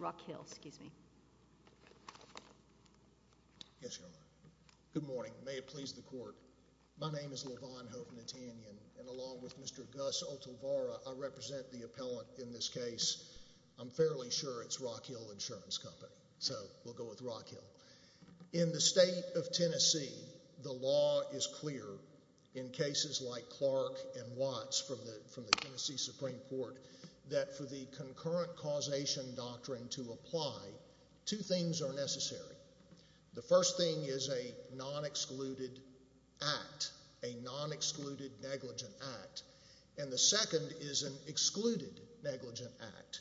Rockhill, excuse me. Yes, you are. Good morning. May it please the court. My name is Levon Hovnatanyan, and along with Mr. Gus Oltavara, I represent the appellant in this case. I'm fairly sure it's Rockhill Insurance Company, so we'll go with Rockhill. In the state of Tennessee, the law is clear in cases like Clark and Watts from the Tennessee Supreme Court that for the concurrent causation doctrine to apply, two things are necessary. The first thing is a non-excluded act, a non-excluded negligent act, and the second is an excluded negligent act.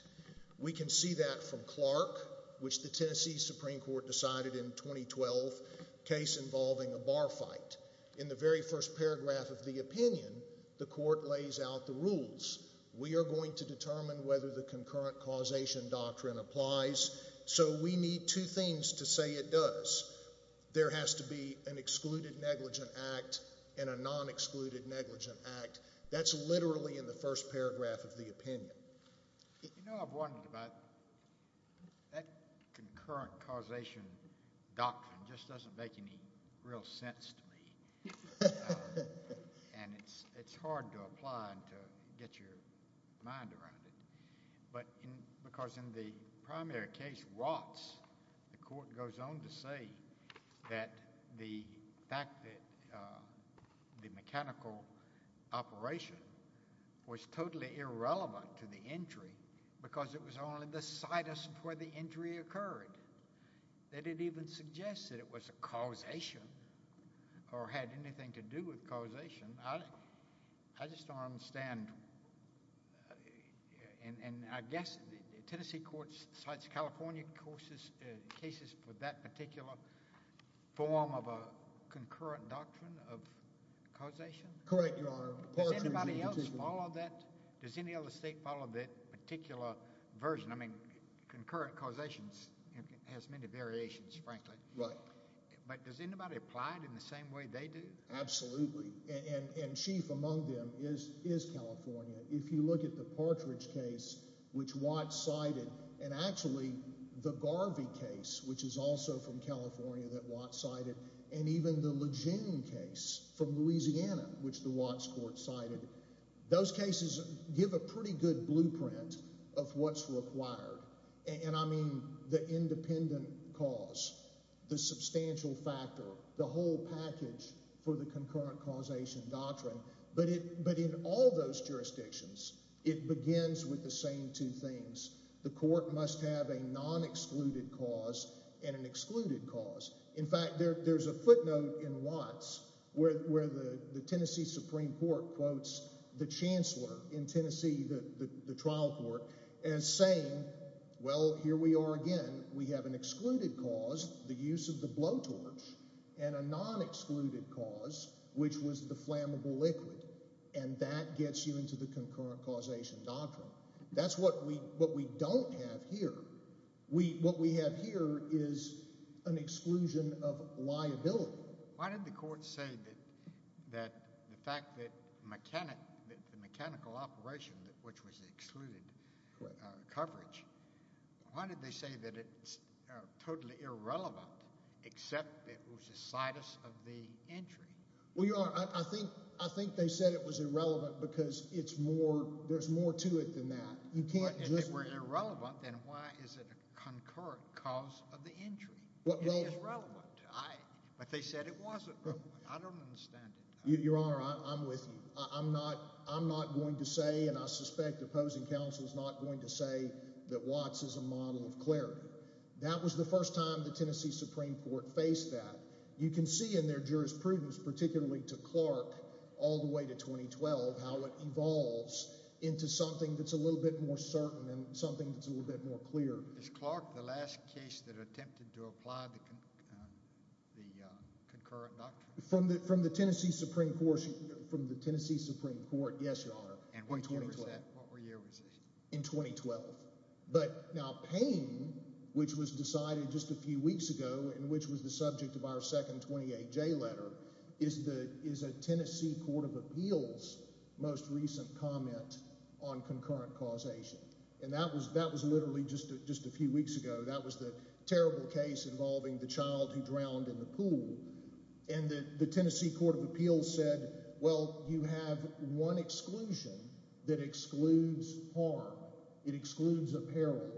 We can see that from Clark, which the Tennessee Supreme Court decided in 2012, case involving a bar fight. In the very first paragraph of the opinion, the court lays out the rules. We are going to determine whether the concurrent causation doctrine applies, so we need two things to say it does. There has to be an excluded negligent act and a non-excluded negligent act. That's literally in the first paragraph of the opinion. You know, I've wondered about that concurrent causation doctrine just doesn't make any real sense to me, and it's hard to apply and to get your mind around it, but because in the primary case, Watts, the court goes on to say that the fact that the mechanical operation was totally irrelevant to the injury because it was only the situs where the injury occurred. They didn't even suggest that it was a causation or had anything to do with causation. I just don't understand, and I guess the Tennessee court cites California cases for that particular form of a concurrent doctrine of causation? Correct, Your Honor. Does anybody else follow that? Does any other state follow that particular version? I mean, concurrent causations has many applied in the same way they do. Absolutely, and chief among them is California. If you look at the Partridge case, which Watts cited, and actually the Garvey case, which is also from California that Watts cited, and even the Lejeune case from Louisiana, which the Watts court cited, those cases give a pretty good blueprint of what's required, and I mean the independent cause, the substantial factor, the whole package for the concurrent causation doctrine, but in all those jurisdictions, it begins with the same two things. The court must have a non-excluded cause and an excluded cause. In fact, there's a footnote in Watts where the Tennessee Supreme Court quotes the chancellor in Tennessee, the trial court, as saying, well, here we are again. We have an the use of the blowtorch and a non-excluded cause, which was the flammable liquid, and that gets you into the concurrent causation doctrine. That's what we don't have here. What we have here is an exclusion of liability. Why did the court say that the fact that the mechanical operation, which was the excluded coverage, why did they say that it's totally irrelevant except it was the situs of the entry? Well, your honor, I think they said it was irrelevant because there's more to it than that. If it were irrelevant, then why is it a concurrent cause of the entry? It is relevant, but they said it wasn't relevant. I don't understand it. Your honor, I'm with you. I'm not going to say, and I suspect opposing counsel is not going to say, that Watts is a model of clarity. That was the first time the Tennessee Supreme Court faced that. You can see in their jurisprudence, particularly to Clark all the way to 2012, how it evolves into something that's a little bit more certain and something that's a little bit more clear. Is Clark the last case that attempted to apply the concurrent doctrine? From the Tennessee Supreme Court, yes, your honor. And what year was that? In 2012. But now Payne, which was decided just a few weeks ago, and which was the subject of our second 28J letter, is a Tennessee Court of Appeals most recent comment on concurrent causation. That was literally just a few weeks ago. That was the case involving the child who drowned in the pool. And the Tennessee Court of Appeals said, well, you have one exclusion that excludes harm. It excludes a peril.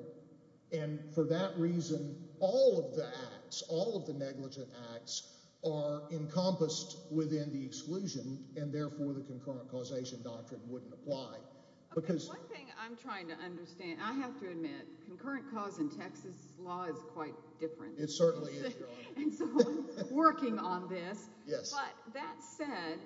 And for that reason, all of the acts, all of the negligent acts are encompassed within the exclusion, and therefore the concurrent causation doctrine wouldn't apply. Because one thing I'm trying to understand, I have to admit, concurrent cause in Texas law is quite different. It certainly is, your honor. And so I'm working on this. But that said,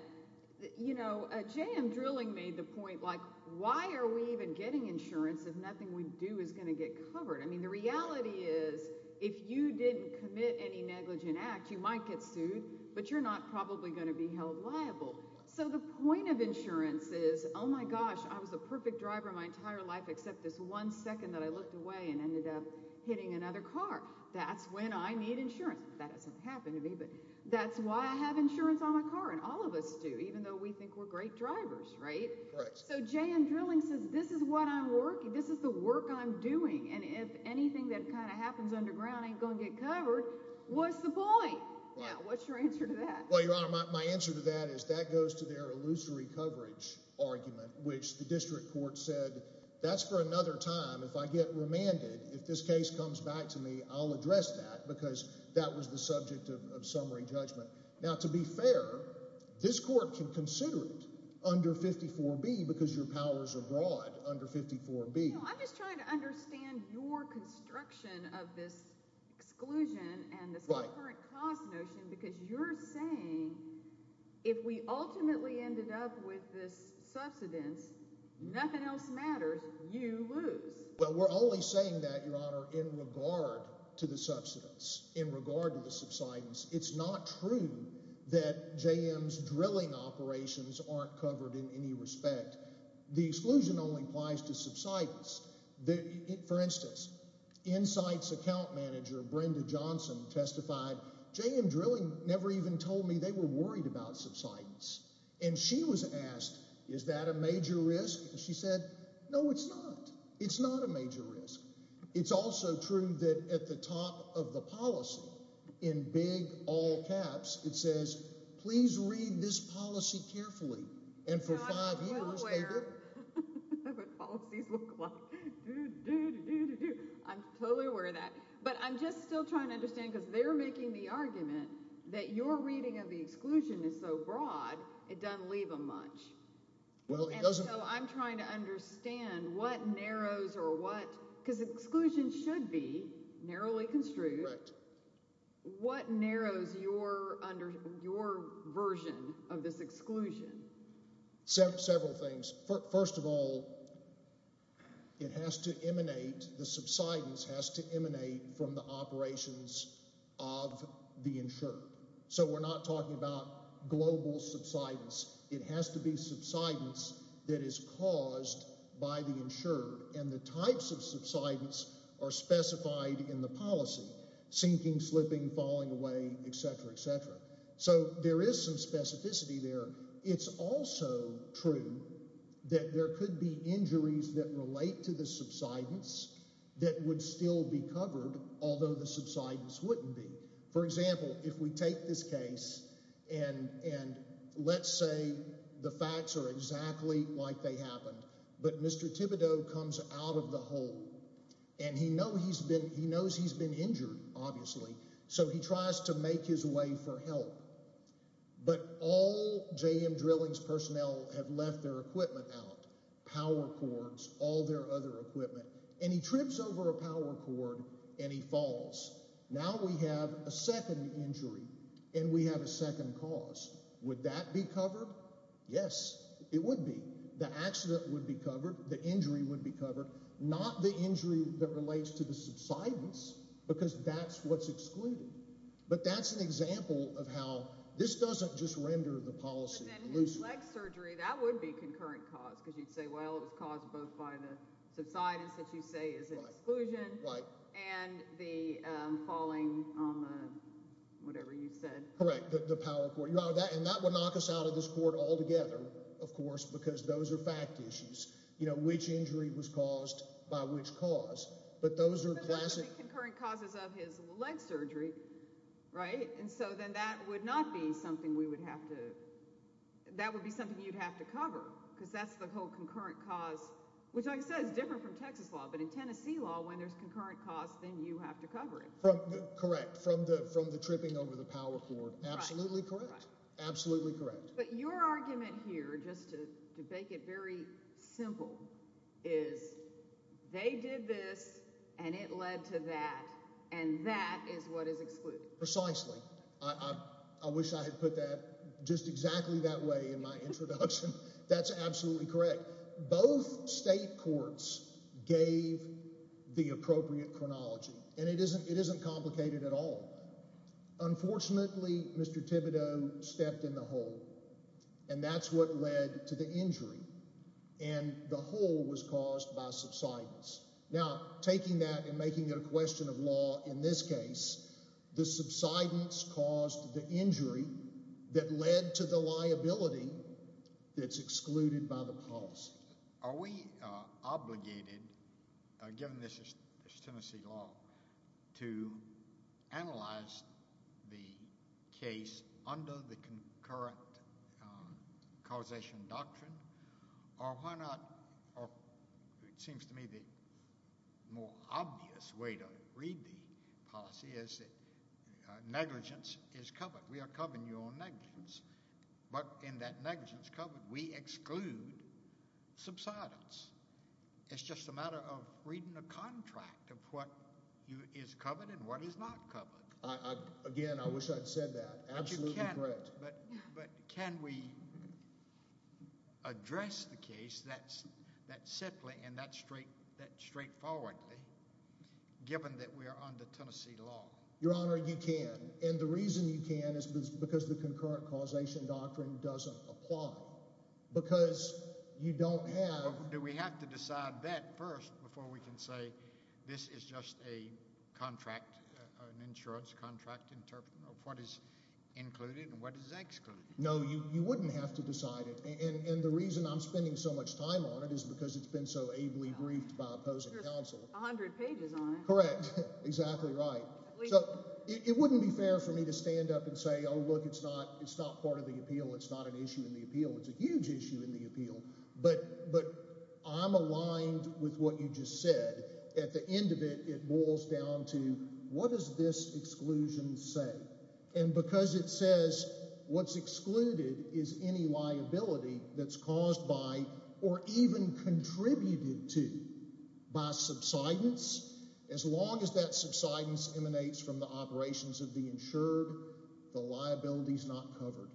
you know, J.M. Drilling made the point, like, why are we even getting insurance if nothing we do is going to get covered? I mean, the reality is, if you didn't commit any negligent act, you might get sued, but you're not probably going to be held liable. So the point of insurance is, oh my gosh, I was the perfect driver my entire life, except this one second that I looked away and ended up hitting another car. That's when I need insurance. That doesn't happen to me, but that's why I have insurance on my car, and all of us do, even though we think we're great drivers, right? Correct. So J.M. Drilling says, this is what I'm working, this is the work I'm doing, and if anything that kind of happens underground ain't going to get covered, what's the point? Now, what's your answer to that? Well, your honor, my answer to that is that goes to their illusory coverage argument, which the district court said, that's for another time. If I get remanded, if this case comes back to me, I'll address that, because that was the subject of summary judgment. Now, to be fair, this court can consider it under 54B because your powers are broad under 54B. I'm just trying to understand your construction of this exclusion and this concurrent cost notion, because you're saying if we ultimately ended up with this subsidence, nothing else matters, you lose. Well, we're only saying that, your honor, in regard to the subsidence, in regard to the subsidence. It's not true that J.M.'s drilling operations aren't covered in any respect. The exclusion only applies to subsidence. For instance, Insight's account manager, Brenda Johnson, testified, J.M. Drilling never even told me they were worried about subsidence, and she was asked, is that a major risk? She said, no, it's not. It's not a major risk. It's also true that at the top of the policy, in big, all caps, it says, please read this policy carefully, and for five years, they did. I'm totally aware of that, but I'm just still trying to understand, because they're making the that your reading of the exclusion is so broad, it doesn't leave them much. Well, it doesn't. I'm trying to understand what narrows or what, because exclusion should be narrowly construed. What narrows your version of this exclusion? Several things. First of all, it has to emanate, the subsidence has to emanate from the operations of the insured, so we're not talking about global subsidence. It has to be subsidence that is caused by the insured, and the types of subsidence are specified in the policy, sinking, slipping, falling away, etc., etc., so there is some specificity there. It's also true that there could be injuries that relate to the subsidence that would still be covered, although the subsidence wouldn't be. For example, if we take this case, and let's say the facts are exactly like they happened, but Mr. Thibodeau comes out of the hole, and he knows he's been injured, obviously, so he tries to make his way for help, but all JM Drilling's personnel have left their equipment out, power cords, all their other equipment, and he trips over a power cord, and he falls. Now we have a second injury, and we have a second cause. Would that be covered? Yes, it would be. The accident would be covered, the injury would be covered, not the injury that relates to the subsidence, because that's what's excluded, but that's an example of how this doesn't just render the policy loose. But then his leg surgery, that would be concurrent cause, because you'd say, well, it was caused both by the subsidence that you say is an exclusion, and the falling on the, whatever you said. Correct, the power cord, and that would knock us out of this court altogether, of course, because those are fact issues, you know, which injury was caused by which cause, but those are classic. But that would be concurrent causes of his leg surgery, right, and so then that would not be something we would have to, that would be something you'd have to cover, because that's the whole concurrent cause, which like I said, is different from Texas law, but in Tennessee law, when there's concurrent cause, then you have to cover it. Correct, from the tripping over the power cord, absolutely correct, absolutely correct. But your argument here, just to make it very simple, is they did this, and it led to that, and that is what is excluded. Precisely. I wish I had put that just exactly that way in my introduction. That's absolutely correct. Both state courts gave the appropriate chronology, and it isn't complicated at all. Unfortunately, Mr. Thibodeau stepped in the hole, and that's what led to the injury, and the hole was caused by subsidence. Now, taking that and making it a question of law, in this case, the subsidence caused the injury that led to the liability that's excluded by the policy. Are we obligated, given this is Tennessee law, to analyze the case under the concurrent causation doctrine, or why not, or it seems to me the more obvious way to read the policy is that negligence is covered. We are covering your own negligence, but in that negligence covered, we exclude subsidence. It's just a matter of reading the contract of what is covered and what is not covered. Again, I wish I'd said that. Absolutely correct. But can we address the case that simply and that straightforwardly, given that we are under Tennessee law? Your Honor, you can, and the reason you can is because the concurrent causation doctrine doesn't apply, because you don't have... Do we have to decide that first before we can say this is just a contract, an insurance contract of what is included and what is excluded? No, you wouldn't have to decide it, and the reason I'm spending so much time on it is because it's been so ably briefed by opposing counsel. There's a hundred pages on it. Correct. Exactly right. So, it wouldn't be fair for me to stand up and say, oh look, it's not part of the appeal, it's not an issue in the appeal, it's a huge issue in the appeal, but I'm aligned with what you just said. At the end of it, it boils down to what does this exclusion say? And because it says what's excluded is any liability that's caused by or even contributed to by subsidence, as long as that subsidence emanates from the operations of the insured, the liability is not covered,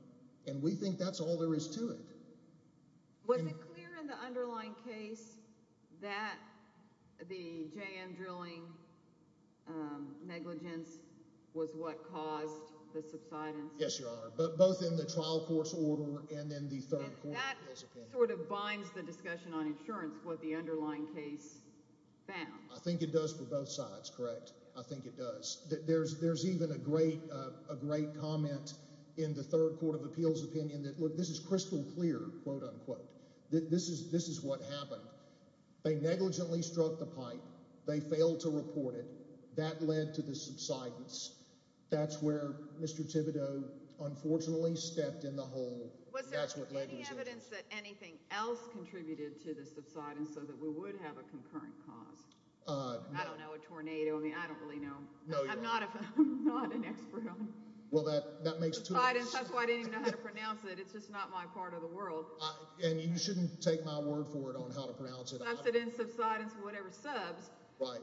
and we think that's all there is to it. Was it clear in the underlying case that the J.M. drilling negligence was what caused the subsidence? Yes, Your Honor, both in the trial course order and in the third court of appeals opinion. That sort of binds the discussion on insurance, what the underlying case found. I think it does for both sides, correct. I think it does. There's even a great comment in the third quote-unquote. This is what happened. They negligently struck the pipe. They failed to report it. That led to the subsidence. That's where Mr. Thibodeau, unfortunately, stepped in the hole. Was there any evidence that anything else contributed to the subsidence so that we would have a concurrent cause? I don't know, a tornado? I mean, I don't really know. I'm not an expert. Well, that makes it too obvious. That's why I didn't even know how to pronounce it. It's just not my part of the world. And you shouldn't take my word for it on how to pronounce it. Subsidence, subsidence, whatever, subs. Right.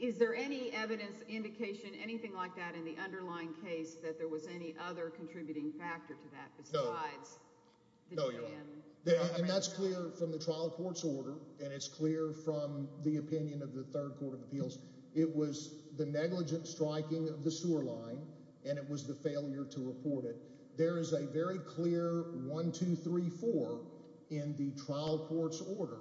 Is there any evidence, indication, anything like that in the underlying case that there was any other contributing factor to that besides the J.M.? No, Your Honor. And that's clear from the trial court's order, and it's clear from the opinion of the Third Court of Appeals. It was the negligent striking of the sewer line, and it was the failure to report it. There is a very clear 1, 2, 3, 4 in the trial court's order,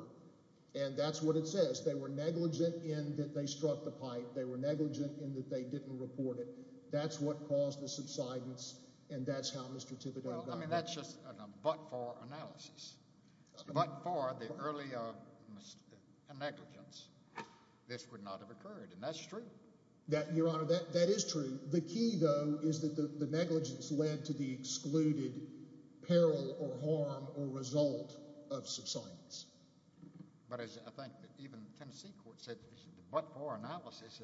and that's what it says. They were negligent in that they struck the pipe. They were negligent in that they didn't report it. That's what caused the subsidence, and that's how Mr. Thibodeau got hurt. Well, I mean, that's just a but-for analysis. But-for, the earlier negligence, this would not have occurred, and that's true. That, Your Honor, that is true. The key, though, is that the negligence led to the excluded peril or harm or result of subsidence. But as I think that even Tennessee court said, the but-for analysis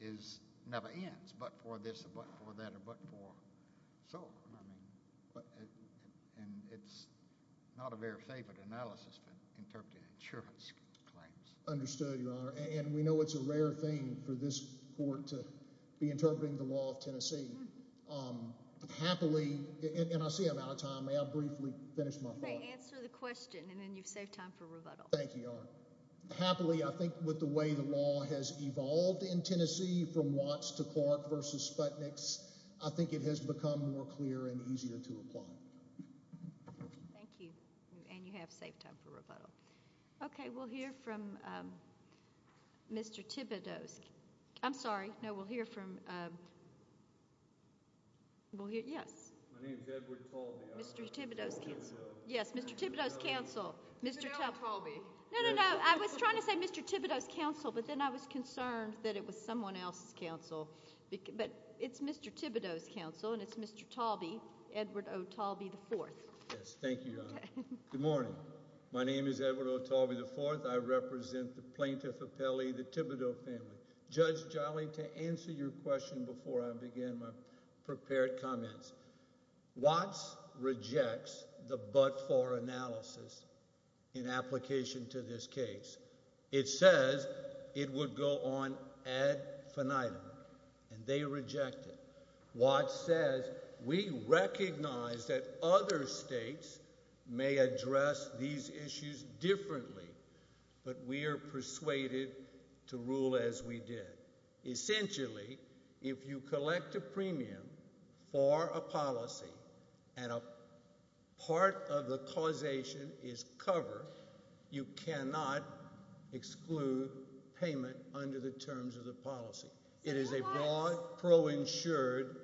is never ends. But-for this, but-for that, or but-for so. I mean, but-and it's not a very favored analysis, but interpreting insurance claims. Understood, Your Honor, and we know it's a rare thing for this court to be interpreting the law of Tennessee. Happily, and I see I'm out of time. May I briefly finish my thought? May I answer the question, and then you've saved time for rebuttal. Thank you, Your Honor. Happily, I think with the way the law has evolved in Tennessee from Watts to Clark versus Sputniks, I think it has become more clear and easier to apply. Thank you, and you have saved time for rebuttal. Okay, we'll hear from Mr. Thibodeaux. I'm sorry. No, we'll hear from-we'll hear-yes? My name is Edward Talby. Mr. Thibodeaux's counsel. Yes, Mr. Thibodeaux's counsel. Mr. Talby. No, no, no. I was trying to say Mr. Thibodeaux's and I was concerned that it was someone else's counsel, but it's Mr. Thibodeaux's counsel, and it's Mr. Talby, Edward O. Talby IV. Yes, thank you, Your Honor. Good morning. My name is Edward O. Talby IV. I represent the plaintiff appellee, the Thibodeaux family. Judge Jolly, to answer your question before I begin my prepared comments, Watts rejects the but-for analysis in application to this case. It says it would go on ad finitum, and they reject it. Watts says, we recognize that other states may address these issues differently, but we are persuaded to rule as we did. Essentially, if you collect a premium for a policy and a part of the causation is covered, you cannot exclude payment under the terms of the policy. It is a broad, pro-insured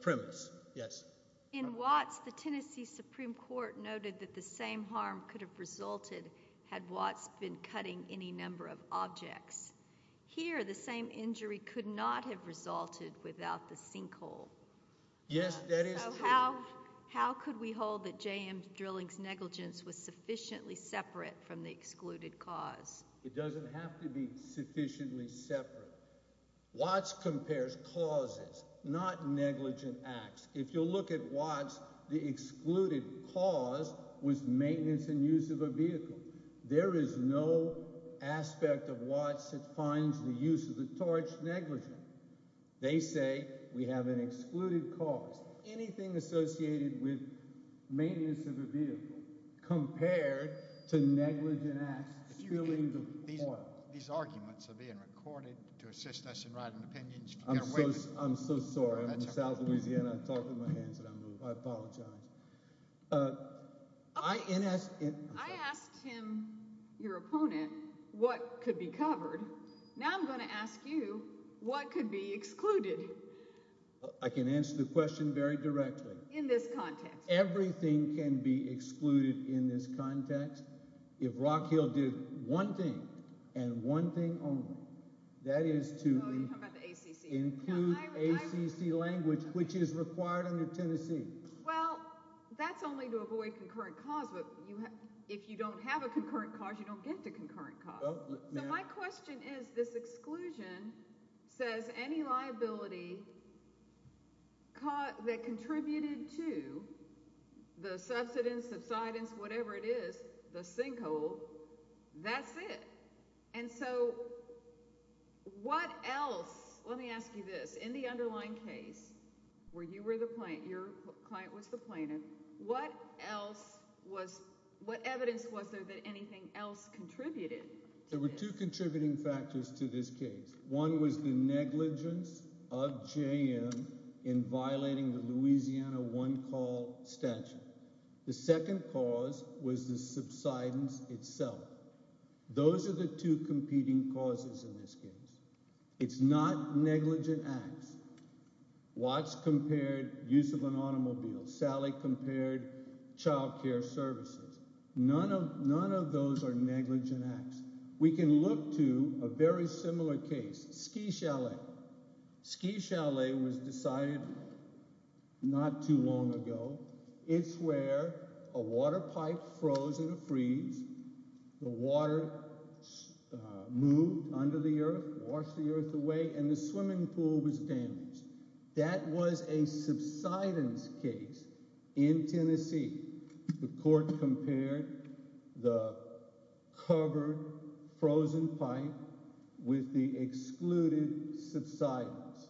premise. Yes? In Watts, the Tennessee Supreme Court noted that the same harm could have resulted had Watts been cutting any number of objects. Here, the same injury could not have resulted without the sinkhole. Yes, that is true. How could we hold that J.M. Drilling's negligence was sufficiently separate from the excluded cause? It doesn't have to be sufficiently separate. Watts compares causes, not negligent acts. If you look at Watts, the excluded cause was maintenance and use of a vehicle. There is no aspect of Watts that finds the use of the torch negligent. They say we have an excluded cause. Anything associated with maintenance of a vehicle compared to negligent acts, spilling the oil. These arguments are being recorded to assist us in writing opinions. I'm so sorry. I'm from south Louisiana. I'm talking with my hands and I move. I apologize. I asked him, your opponent, what could be covered. Now I'm going to ask you, what could be excluded? I can answer the question very directly. In this context. Everything can be excluded in this context. If Rock Hill did one thing and one thing only, that is to include ACC language, which is required under Tennessee. Well, that's only to avoid concurrent cause. But if you don't have a concurrent cause, you don't get to concurrent cause. My question is, this exclusion says any liability that contributed to the subsidence, subsidence, whatever it is, the sinkhole, that's it. And so what else, let me ask you this, in the underlying case where you were the client, your client was the plaintiff, what else was, what evidence was there that anything else contributed? There were two contributing factors to this case. One was the negligence of JM in violating the competing causes in this case. It's not negligent acts. Watts compared use of an automobile. Sally compared child care services. None of those are negligent acts. We can look to a very similar case. Ski Chalet. Ski Chalet was decided not too long ago. It's where a water pipe froze in a moved under the earth, washed the earth away, and the swimming pool was damaged. That was a subsidence case in Tennessee. The court compared the covered frozen pipe with the excluded subsidence.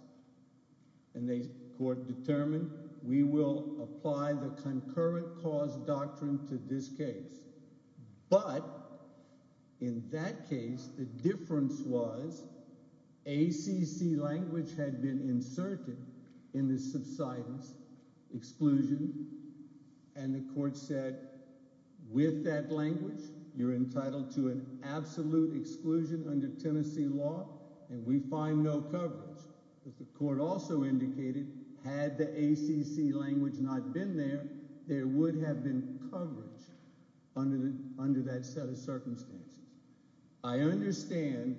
And the court determined we will apply the concurrent cause doctrine to this case. But in that case, the difference was ACC language had been inserted in the subsidence exclusion. And the court said, with that language, you're entitled to an absolute exclusion under Tennessee law, and we find no coverage. But the court also indicated, had the ACC language not been there, there would have been coverage under that set of circumstances. I understand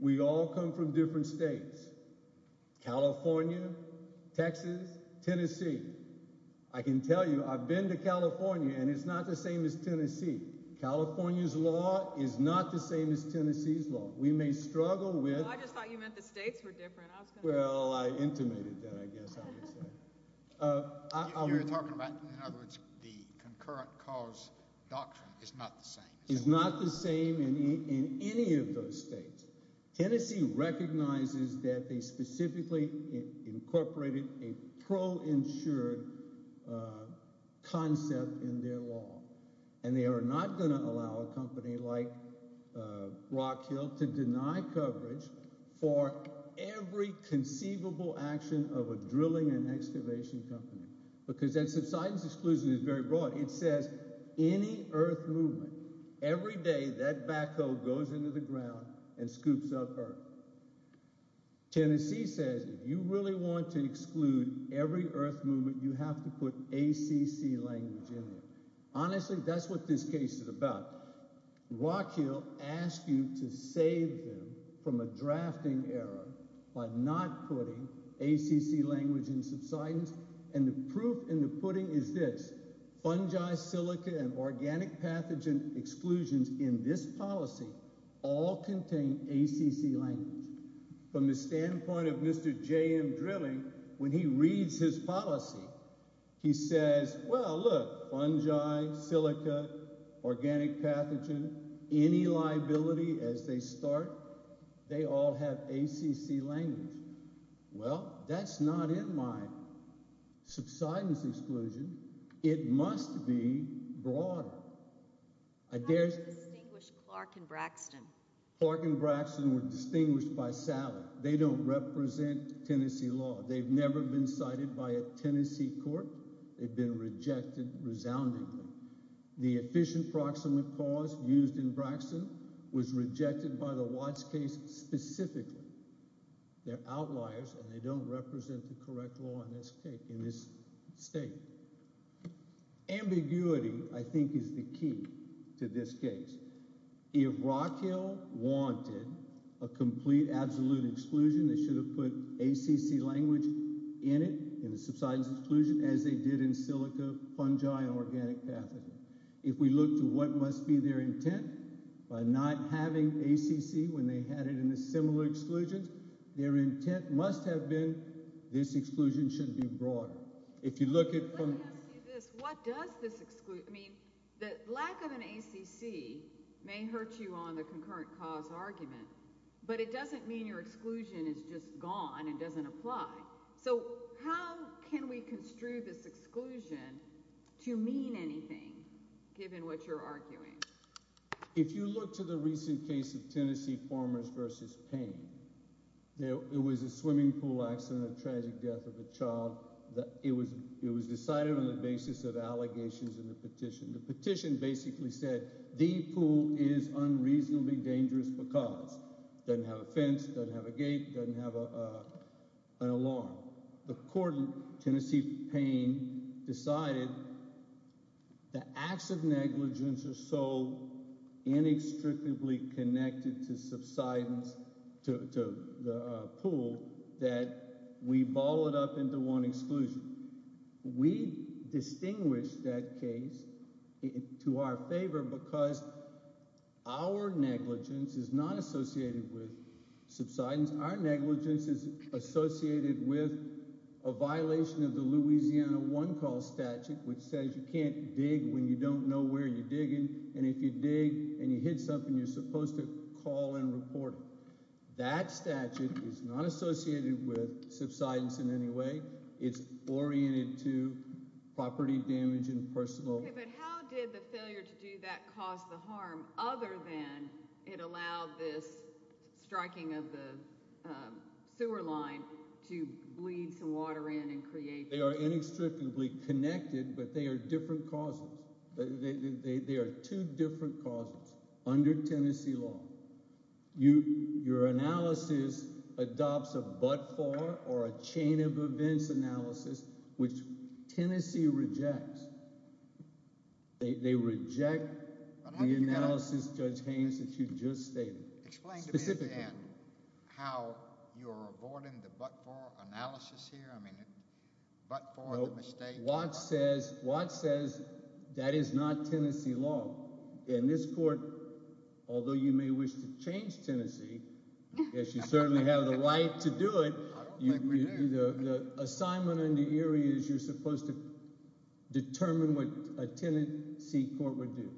we all come from different states. California, Texas, Tennessee. I can tell you, I've been to California, and it's not the same as Tennessee. California's law is not the same as Tennessee's law. We may struggle with... Well, I just thought you meant the states were the same. You're talking about, in other words, the concurrent cause doctrine is not the same. It's not the same in any of those states. Tennessee recognizes that they specifically incorporated a pro-insured concept in their law. And they are not going to allow a company like an excavation company, because that subsidence exclusion is very broad. It says any earth movement, every day that backhoe goes into the ground and scoops up earth. Tennessee says, if you really want to exclude every earth movement, you have to put ACC language in it. Honestly, that's what this case is about. Rock Hill asked you to save them from a drafting error by not putting ACC language in subsidence. And the proof in the pudding is this, fungi, silica, and organic pathogen exclusions in this policy all contain ACC language. From the standpoint of Mr. J.M. Drilling, when he reads his policy, he says, well, look, ACC language. Well, that's not in my subsidence exclusion. It must be broader. How do you distinguish Clark and Braxton? Clark and Braxton were distinguished by salary. They don't represent Tennessee law. They've never been cited by a Tennessee court. They've been rejected resoundingly. The efficient proximate cause used in Braxton was rejected by the Watts case specifically. They're outliers, and they don't represent the correct law in this state. Ambiguity, I think, is the key to this case. If Rock Hill wanted a complete absolute exclusion, they should have put ACC language in it, in the subsidence exclusion, as they did in silica, fungi, and organic pathogen. If we look to what must be their intent by not having ACC when they had it in the similar exclusions, their intent must have been this exclusion should be broader. If you look at this, what does this exclude? I mean, the lack of an ACC may hurt you on the concurrent cause argument, but it doesn't mean your exclusion is just gone and doesn't apply. So how can we construe this exclusion to mean anything, given what you're arguing? If you look to the recent case of Tennessee Farmers versus Payne, it was a swimming pool accident, a tragic death of a child. It was decided on the basis of allegations in the petition. The petition basically said the pool is unreasonably dangerous because it doesn't have a fence, doesn't have a gate, doesn't have an alarm. The court in Tennessee Payne decided the acts of negligence are so inextricably connected to subsidence, to the pool, that we bottle it up into one exclusion. We distinguish that case to our favor because our negligence is not associated with subsidence. Our negligence is associated with a violation of the Louisiana One Call statute, which says you can't dig when you don't know where you're digging, and if you dig and you hit something, you're supposed to call and report it. That statute is not associated with subsidence in any way. It's oriented to property damage and personal... Okay, but how did the failure to do that cause the harm, other than it allowed this striking of the sewer line to bleed some water in and create... They are inextricably connected, but they are different causes. They are two different causes under Tennessee law. Your analysis adopts a but-for or a chain of events analysis, which Tennessee rejects. They reject the analysis, Judge Haynes, that you just stated. Explain to me, Dan, how you're avoiding the but-for analysis here? I mean, but-for the mistake... Watt says that is not Tennessee law. In this court, although you may wish to change Tennessee, yes, you certainly have the right to do it. The assignment under Erie is you're supposed to determine what a Tennessee court would do.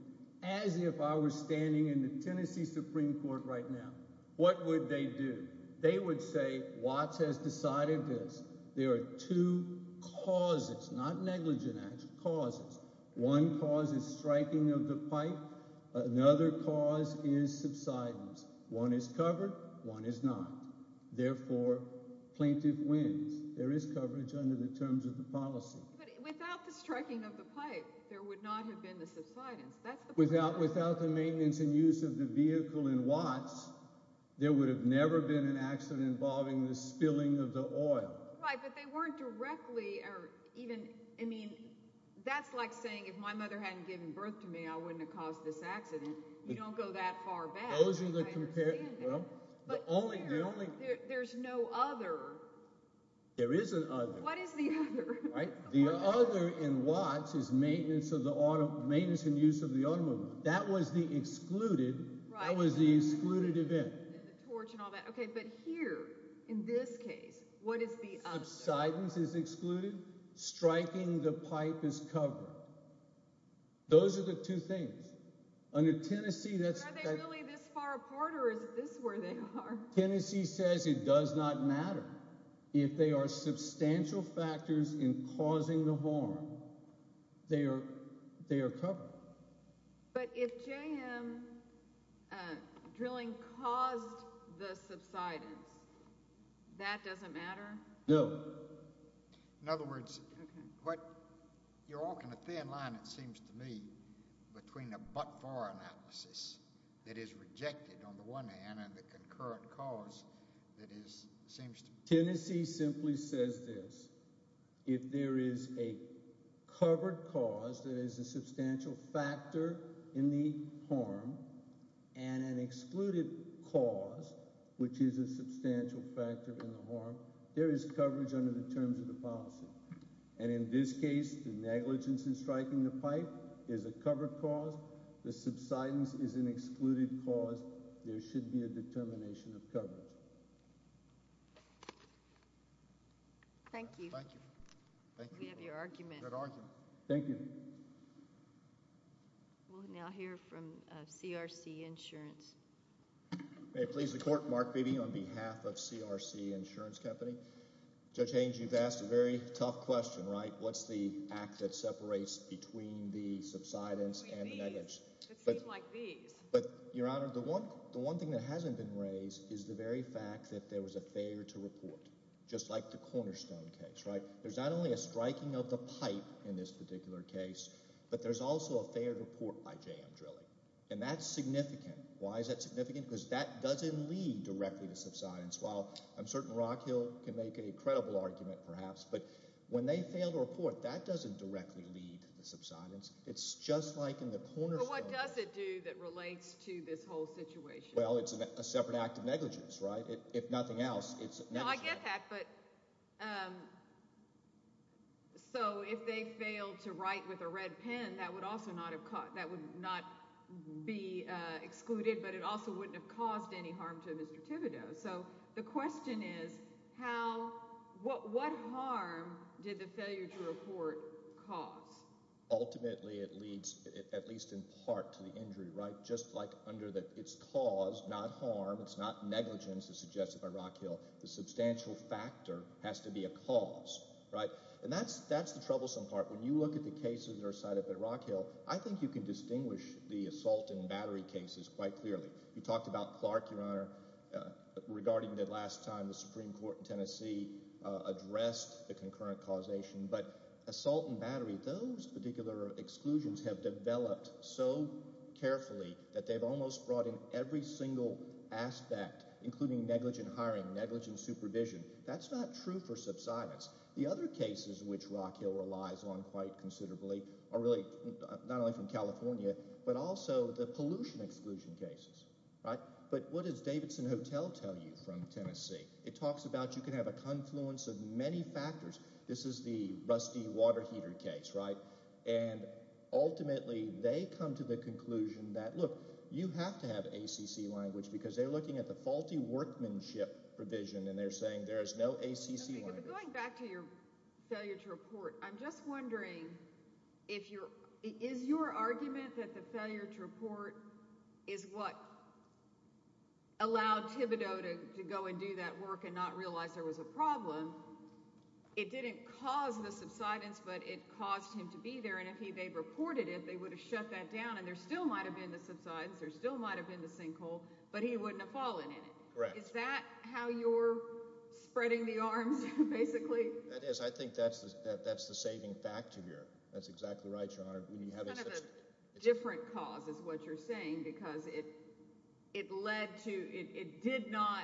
As if I were standing in the Tennessee Supreme Court right now, what would they do? They would say, Watt has decided this. There are two causes, not negligent acts, causes. One cause is striking of the pipe. Another cause is subsidence. One is covered. One is not. Therefore, plaintiff wins. There is coverage under the terms of the policy. But without the striking of the pipe, there would not have been the subsidence. That's the point. Without the maintenance and use of the vehicle in Watts, there would have never been an accident involving the spilling of the oil. Right, but they hadn't given birth to me. I wouldn't have caused this accident. You don't go that far back. Those are the... There's no other. There is an other. What is the other? Right, the other in Watts is maintenance of the auto, maintenance and use of the automobile. That was the excluded, that was the excluded event. Torch and all that. Okay, but here, in this case, what is the other? Subsidence is excluded. Striking the pipe is covered. Those are the two things. Under Tennessee, that's... Are they really this far apart or is this where they are? Tennessee says it does not matter. If they are substantial factors in causing the harm, they are covered. But if JM drilling caused the subsidence, that doesn't matter? No. In other words, you're walking a thin line, it seems to me, between a but-for analysis that is rejected on the one hand and the concurrent cause that is, seems to... Tennessee simply says this. If there is a covered cause that is a substantial factor in the harm and an excluded cause, which is a substantial factor in the harm, there is coverage under the terms of the policy. And in this case, the negligence in striking the pipe is a covered cause. The subsidence is an excluded cause. There should be a determination of coverage. Thank you. Thank you. We have your argument. Thank you. We'll now hear from CRC Insurance. May it please the Court, Mark Beebe on behalf of CRC Insurance Company. Judge Haynes, you've asked a very tough question, right? What's the act that separates between the subsidence and the negligence? It would seem like these. But, Your Honor, the one thing that hasn't been raised is the very fact that there was a failure to report, just like the Cornerstone case, right? There's not only a striking of the pipe in this particular case, but there's also a failed report by JM Drilling. And that's significant. Why is that significant? Because that doesn't lead directly to subsidence. While I'm certain Rockhill can make a credible argument, perhaps, but when they fail to report, that doesn't directly lead to subsidence. It's just like in the Cornerstone. But what does it do that relates to this whole situation? Well, it's a separate act of negligence, right? If nothing else, it's negligence. No, I get that. So, if they fail to write with a red pen, that would also not be excluded, but it also wouldn't have caused any harm to Mr. Thibodeau. So, the question is, what harm did the failure to report cause? Ultimately, it leads, at least in part, to the injury, right? Just like under its cause, not harm, it's not negligence as suggested by Rockhill. The substantial factor has to be a cause, right? And that's the troublesome part. When you look at the cases that are cited by Rockhill, I think you can distinguish the assault and battery cases quite clearly. You talked about Clark, Your Honor, regarding the last time the Supreme Court in Tennessee addressed the concurrent causation. But assault and battery, those particular exclusions have developed so carefully that they've almost brought in every single aspect, including negligent hiring, negligent supervision. That's not true for subsidence. The other cases which Rockhill relies on quite considerably are really not only from California, but also the pollution exclusion cases, right? But what does Davidson Hotel tell you from Tennessee? It talks about you can have a confluence of many factors. This is the rusty water heater case, right? And ultimately, they come to the conclusion that, look, you have to have ACC language because they're looking at the faulty workmanship provision and they're saying there is no ACC language. Going back to your failure to report, I'm just wondering, is your argument that the failure to report is what allowed Thibodeau to go and do that work and not realize there was a problem? It didn't cause the subsidence, but it caused him to be there, and if they'd reported it, they would have shut that down and there still might have been the subsidence, there still might have been the sinkhole, but he wouldn't have fallen in it. Correct. Is that how you're spreading the arms, basically? That is. I think that's the saving factor here. That's exactly right, Your Honor. It's kind of a different cause, is what you're saying, because it did not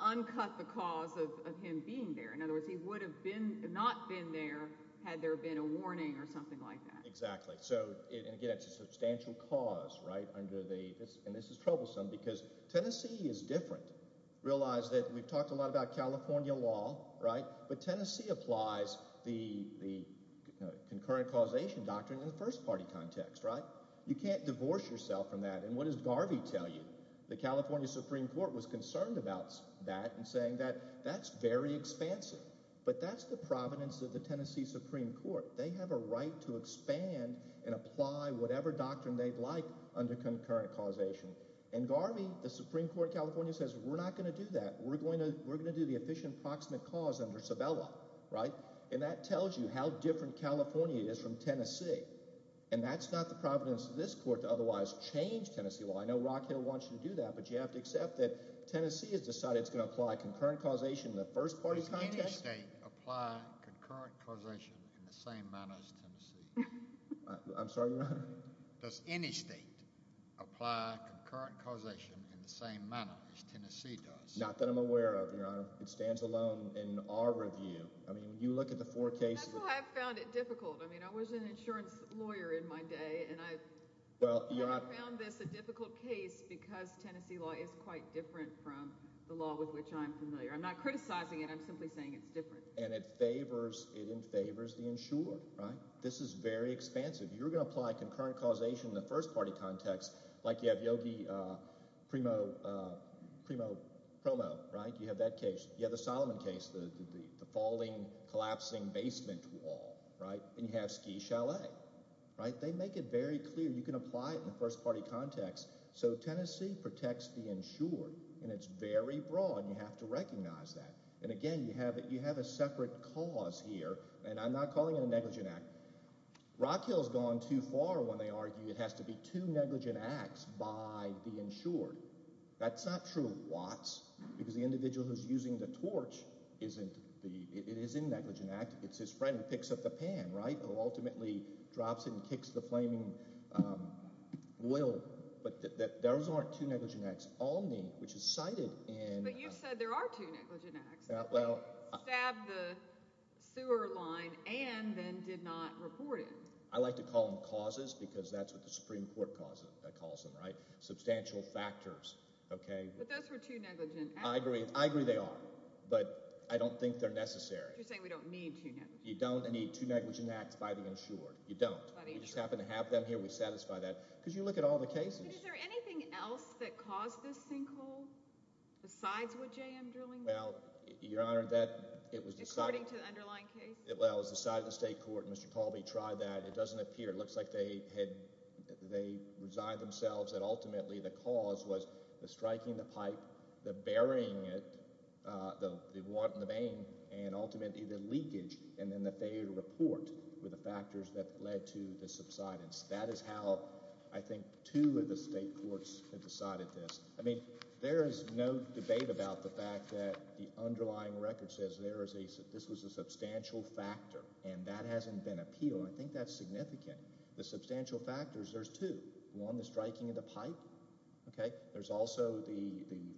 uncut the cause of him being there. In other words, he would have not been there had there been a warning or something like that. Exactly. So, again, it's a substantial cause, right? And this is troublesome because Tennessee is different. Realize that we've talked a lot about California law, right? But Tennessee applies the concurrent causation doctrine in the first party context, right? You can't divorce yourself from that, and what does Garvey tell you? The that's very expansive, but that's the providence of the Tennessee Supreme Court. They have a right to expand and apply whatever doctrine they'd like under concurrent causation, and Garvey, the Supreme Court of California, says, we're not going to do that. We're going to do the efficient proximate cause under Sabella, right? And that tells you how different California is from Tennessee, and that's not the providence of this court to otherwise change Tennessee law. I know Rockhill wants you to do that, but you have to accept that Tennessee has decided it's going to apply concurrent causation in the first party context. Does any state apply concurrent causation in the same manner as Tennessee? I'm sorry, Your Honor? Does any state apply concurrent causation in the same manner as Tennessee does? Not that I'm aware of, Your Honor. It stands alone in our review. I mean, you look at the four cases. That's why I found it difficult. I mean, I was an insurance lawyer in my day, and I found this a difficult case because Tennessee law is quite from the law with which I'm familiar. I'm not criticizing it. I'm simply saying it's different. And it favors, it favors the insured, right? This is very expansive. You're going to apply concurrent causation in the first party context, like you have Yogi Primo Promo, right? You have that case. You have the Solomon case, the falling, collapsing basement wall, right? And you have Ski Chalet, right? They make it very clear. You can apply it in the first party context. So Tennessee protects the insured, and it's very broad, and you have to recognize that. And again, you have a separate cause here, and I'm not calling it a negligent act. Rockhill's gone too far when they argue it has to be two negligent acts by the insured. That's not true of Watts, because the individual who's using the torch isn't the, it is a negligent act. It's his friend who picks up the pan, right? Who ultimately drops it and kicks the flaming oil. But those aren't two negligent acts. All need, which is cited in... But you've said there are two negligent acts. Well... Stabbed the sewer line and then did not report it. I like to call them causes, because that's what the Supreme Court calls them, right? Substantial factors, okay? But those were two negligent acts. I agree. I agree they are. But I don't think they're necessary. You're saying we don't need two negligent acts. You don't need two negligent acts by the insured. You don't. By the insured. We just happen to have them here. We satisfy that, because you look at all the cases. But is there anything else that caused this sinkhole, besides wood jam drilling? Well, Your Honor, that, it was... According to the underlying case? Well, it was the side of the state court. Mr. Colby tried that. It doesn't appear. It looks like they had, they resigned themselves, and ultimately the cause was the striking the pipe, the burying it, the want and the main, and ultimately the leakage, and then the failure to subsidence. That is how, I think, two of the state courts have decided this. I mean, there is no debate about the fact that the underlying record says there is a, this was a substantial factor, and that hasn't been appealed. I think that's significant. The substantial factors, there's two. One, the striking of the pipe, okay? There's also the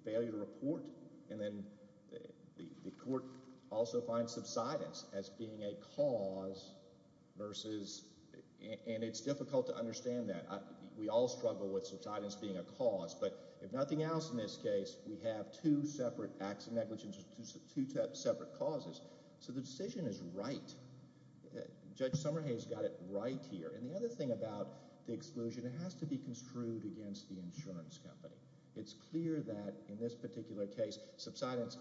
failure to report, and then the court also finds subsidence as being a cause versus, and it's difficult to understand that. We all struggle with subsidence being a cause, but if nothing else, in this case, we have two separate acts of negligence, two separate causes. So the decision is right. Judge Summerhay has got it right here. And the other thing about the exclusion, it has to be construed against the insurance company. It's clear that, in this particular case, subsidence,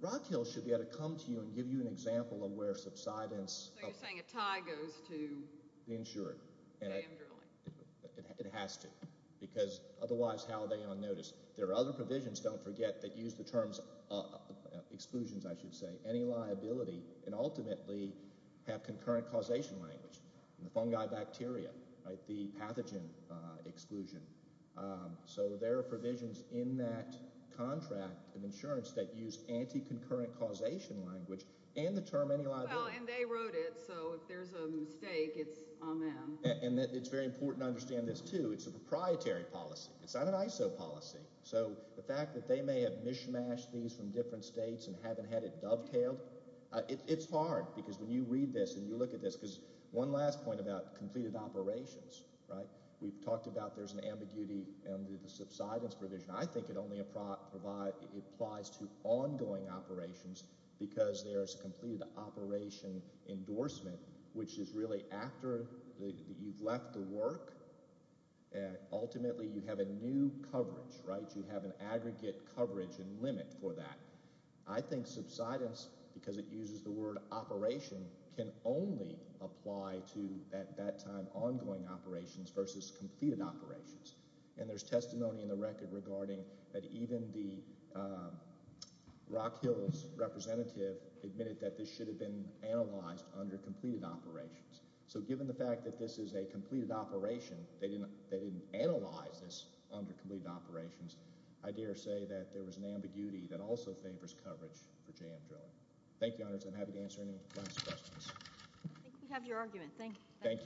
Rock Hill should be able to come to you and give you an example of where subsidence... So you're saying a tie goes to the insured? It has to, because otherwise, how are they on notice? There are other provisions, don't forget, that use the terms of exclusions, I should say, any liability, and ultimately have concurrent causation language. The fungi bacteria, right? The pathogen exclusion. So there are provisions in that contract of insurance that use anti-concurrent causation language and the term any liability. And they wrote it, so if there's a mistake, it's on them. And it's very important to understand this, too. It's a proprietary policy. It's not an ISO policy. So the fact that they may have mishmashed these from different states and haven't had it dovetailed, it's hard, because when you read this and you look at this, because one last point about completed operations, right? We've talked about there's an ambiguity under the subsidence provision. I think it only applies to ongoing operations, because there's completed operation endorsement, which is really after you've left the work, and ultimately you have a new coverage, right? You have an aggregate coverage and limit for that. I think subsidence, because it uses the word operation, can only apply to, at that time, ongoing operations versus completed operations. And there's testimony in the record regarding that even the Rock Hills representative admitted that this should have been analyzed under completed operations. So given the fact that this is a completed operation, they didn't analyze this under completed operations, I dare say that there was an ambiguity that also favors coverage for jam drilling. Thank you, Your Honors. I'm happy to answer any last questions. I think we have your argument. Thank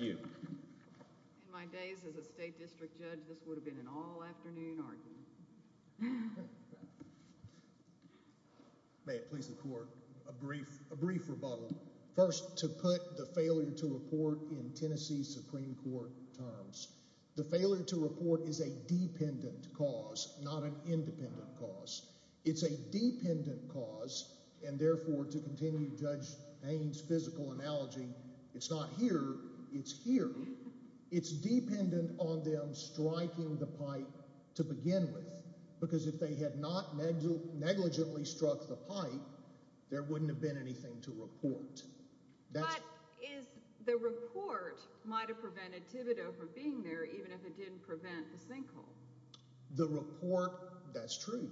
you. In my days as a state district judge, this would have been an all-afternoon argument. May it please the Court, a brief rebuttal. First, to put the failure to report in Tennessee Supreme Court terms. The failure to report is a dependent cause, not an independent cause. It's a dependent cause, and therefore, to continue Judge Payne's physical analogy, it's not here, it's here. It's dependent on them striking the pipe to begin with, because if they had not negligently struck the pipe, there wouldn't have been anything to report. But the report might have prevented Thibodeau from being there, even if it didn't prevent the sinkhole. The report, that's true.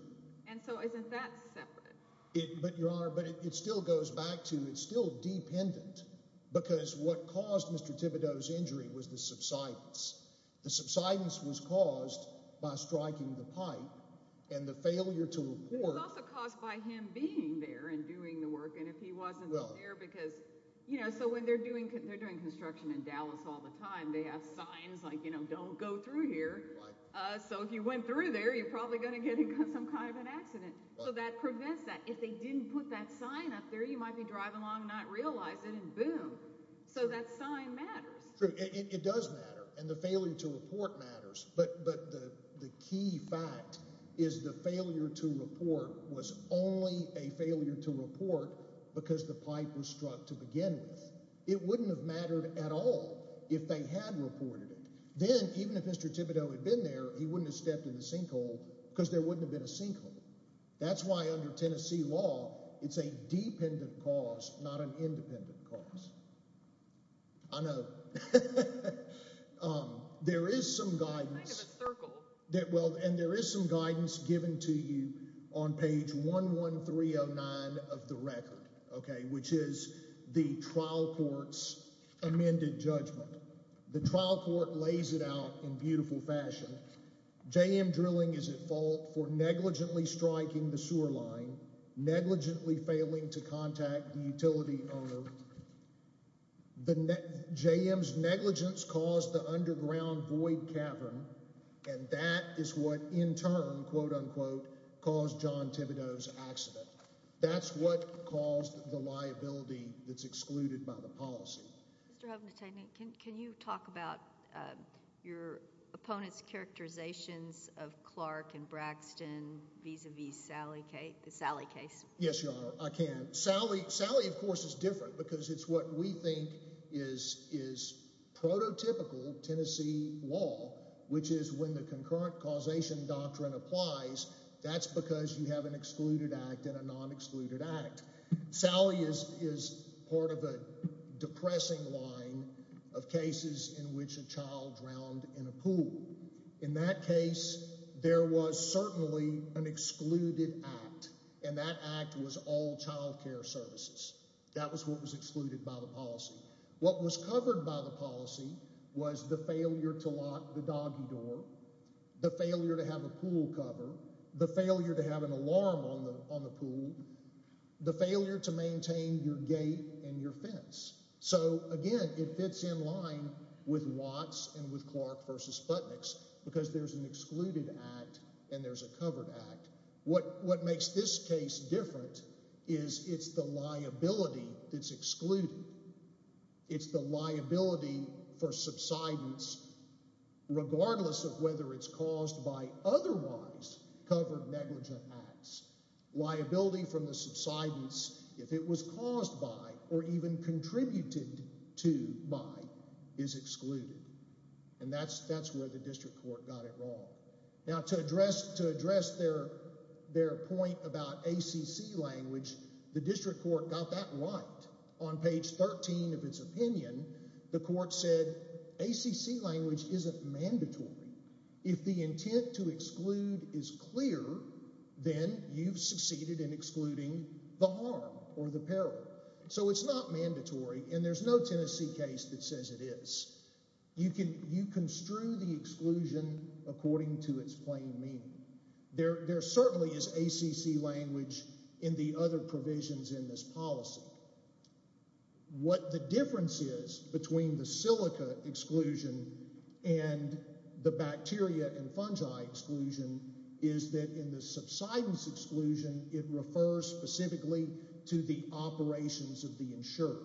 And so isn't that separate? Your Honor, but it still goes back to, it's still dependent, because what caused Mr. Thibodeau's injury was the subsidence. The subsidence was caused by striking the pipe and the failure to report. It was also caused by him being there and doing the work, and if he wasn't there because, you know, so when they're doing construction in Dallas all the time, they have signs like, you know, don't go through here. So if you went through there, you're probably going to get some kind of an accident. So that prevents that. If they didn't put that sign up there, you might be driving along and not realize it, and boom. So that sign matters. True, it does matter, and the failure to report matters, but the key fact is the failure to report was only a failure to report because the pipe was struck to begin with. It wouldn't have mattered at all if they had reported it. Then, even if Mr. Thibodeau had been there, he wouldn't have stepped in the sinkhole because there wouldn't have been a sinkhole. That's why under Tennessee law, it's a dependent cause, not an independent cause. I know. There is some guidance, and there is some guidance given to you on page 11309 of the record, okay, which is the trial court's amended judgment. The trial court lays it out in beautiful fashion. J.M. drilling is at fault for negligently striking the sewer line, negligently failing to contact the utility owner. J.M.'s negligence caused the underground void cavern, and that is what, in turn, quote-unquote, caused John Thibodeau's accident. That's what caused the liability that's excluded by the policy. Mr. Huffington, can you talk about your opponent's characterizations of Clark and Braxton vis-a-vis the Sally case? Yes, Your Honor. I can. Sally, of course, is different because it's what we think is prototypical Tennessee law, which is when the concurrent causation doctrine applies, that's because you have an excluded act and a non-excluded act. Sally is part of a depressing line of cases in which a child drowned in a pool. In that case, there was certainly an excluded act, and that act was all child care services. That was what was excluded by the policy. What was covered by the policy was the failure to lock the doggy door, the failure to have a pool cover, the failure to have an alarm on the pool, the failure to maintain your gate and your fence. So, again, it fits in line with Watts and with Clark v. Sputniks because there's an excluded act and there's a covered act. What makes this case different is it's the liability that's excluded. It's the liability for subsidence, regardless of whether it's caused by otherwise covered negligent acts. Liability from the subsidence, if it was caused by or even contributed to by, is excluded, and that's where the district court got it wrong. Now, to address their point about ACC language, the district court got that right. On page 13 of its opinion, the court said ACC language isn't mandatory. You've succeeded in excluding the harm or the peril, so it's not mandatory, and there's no Tennessee case that says it is. You construe the exclusion according to its plain meaning. There certainly is ACC language in the other provisions in this policy. What the difference is between the silica exclusion and the bacteria and fungi exclusion is that in the subsidence exclusion, it refers specifically to the operations of the insurer.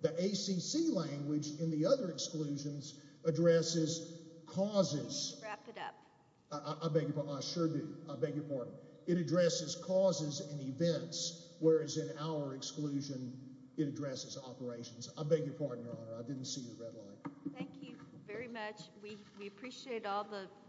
The ACC language in the other exclusions addresses causes. Wrap it up. I beg your pardon. I sure do. I beg your pardon. It addresses causes and events, whereas in our exclusion, it addresses operations. I beg your pardon, Your Honor. I didn't see your red light. Thank you very much. We appreciate all the...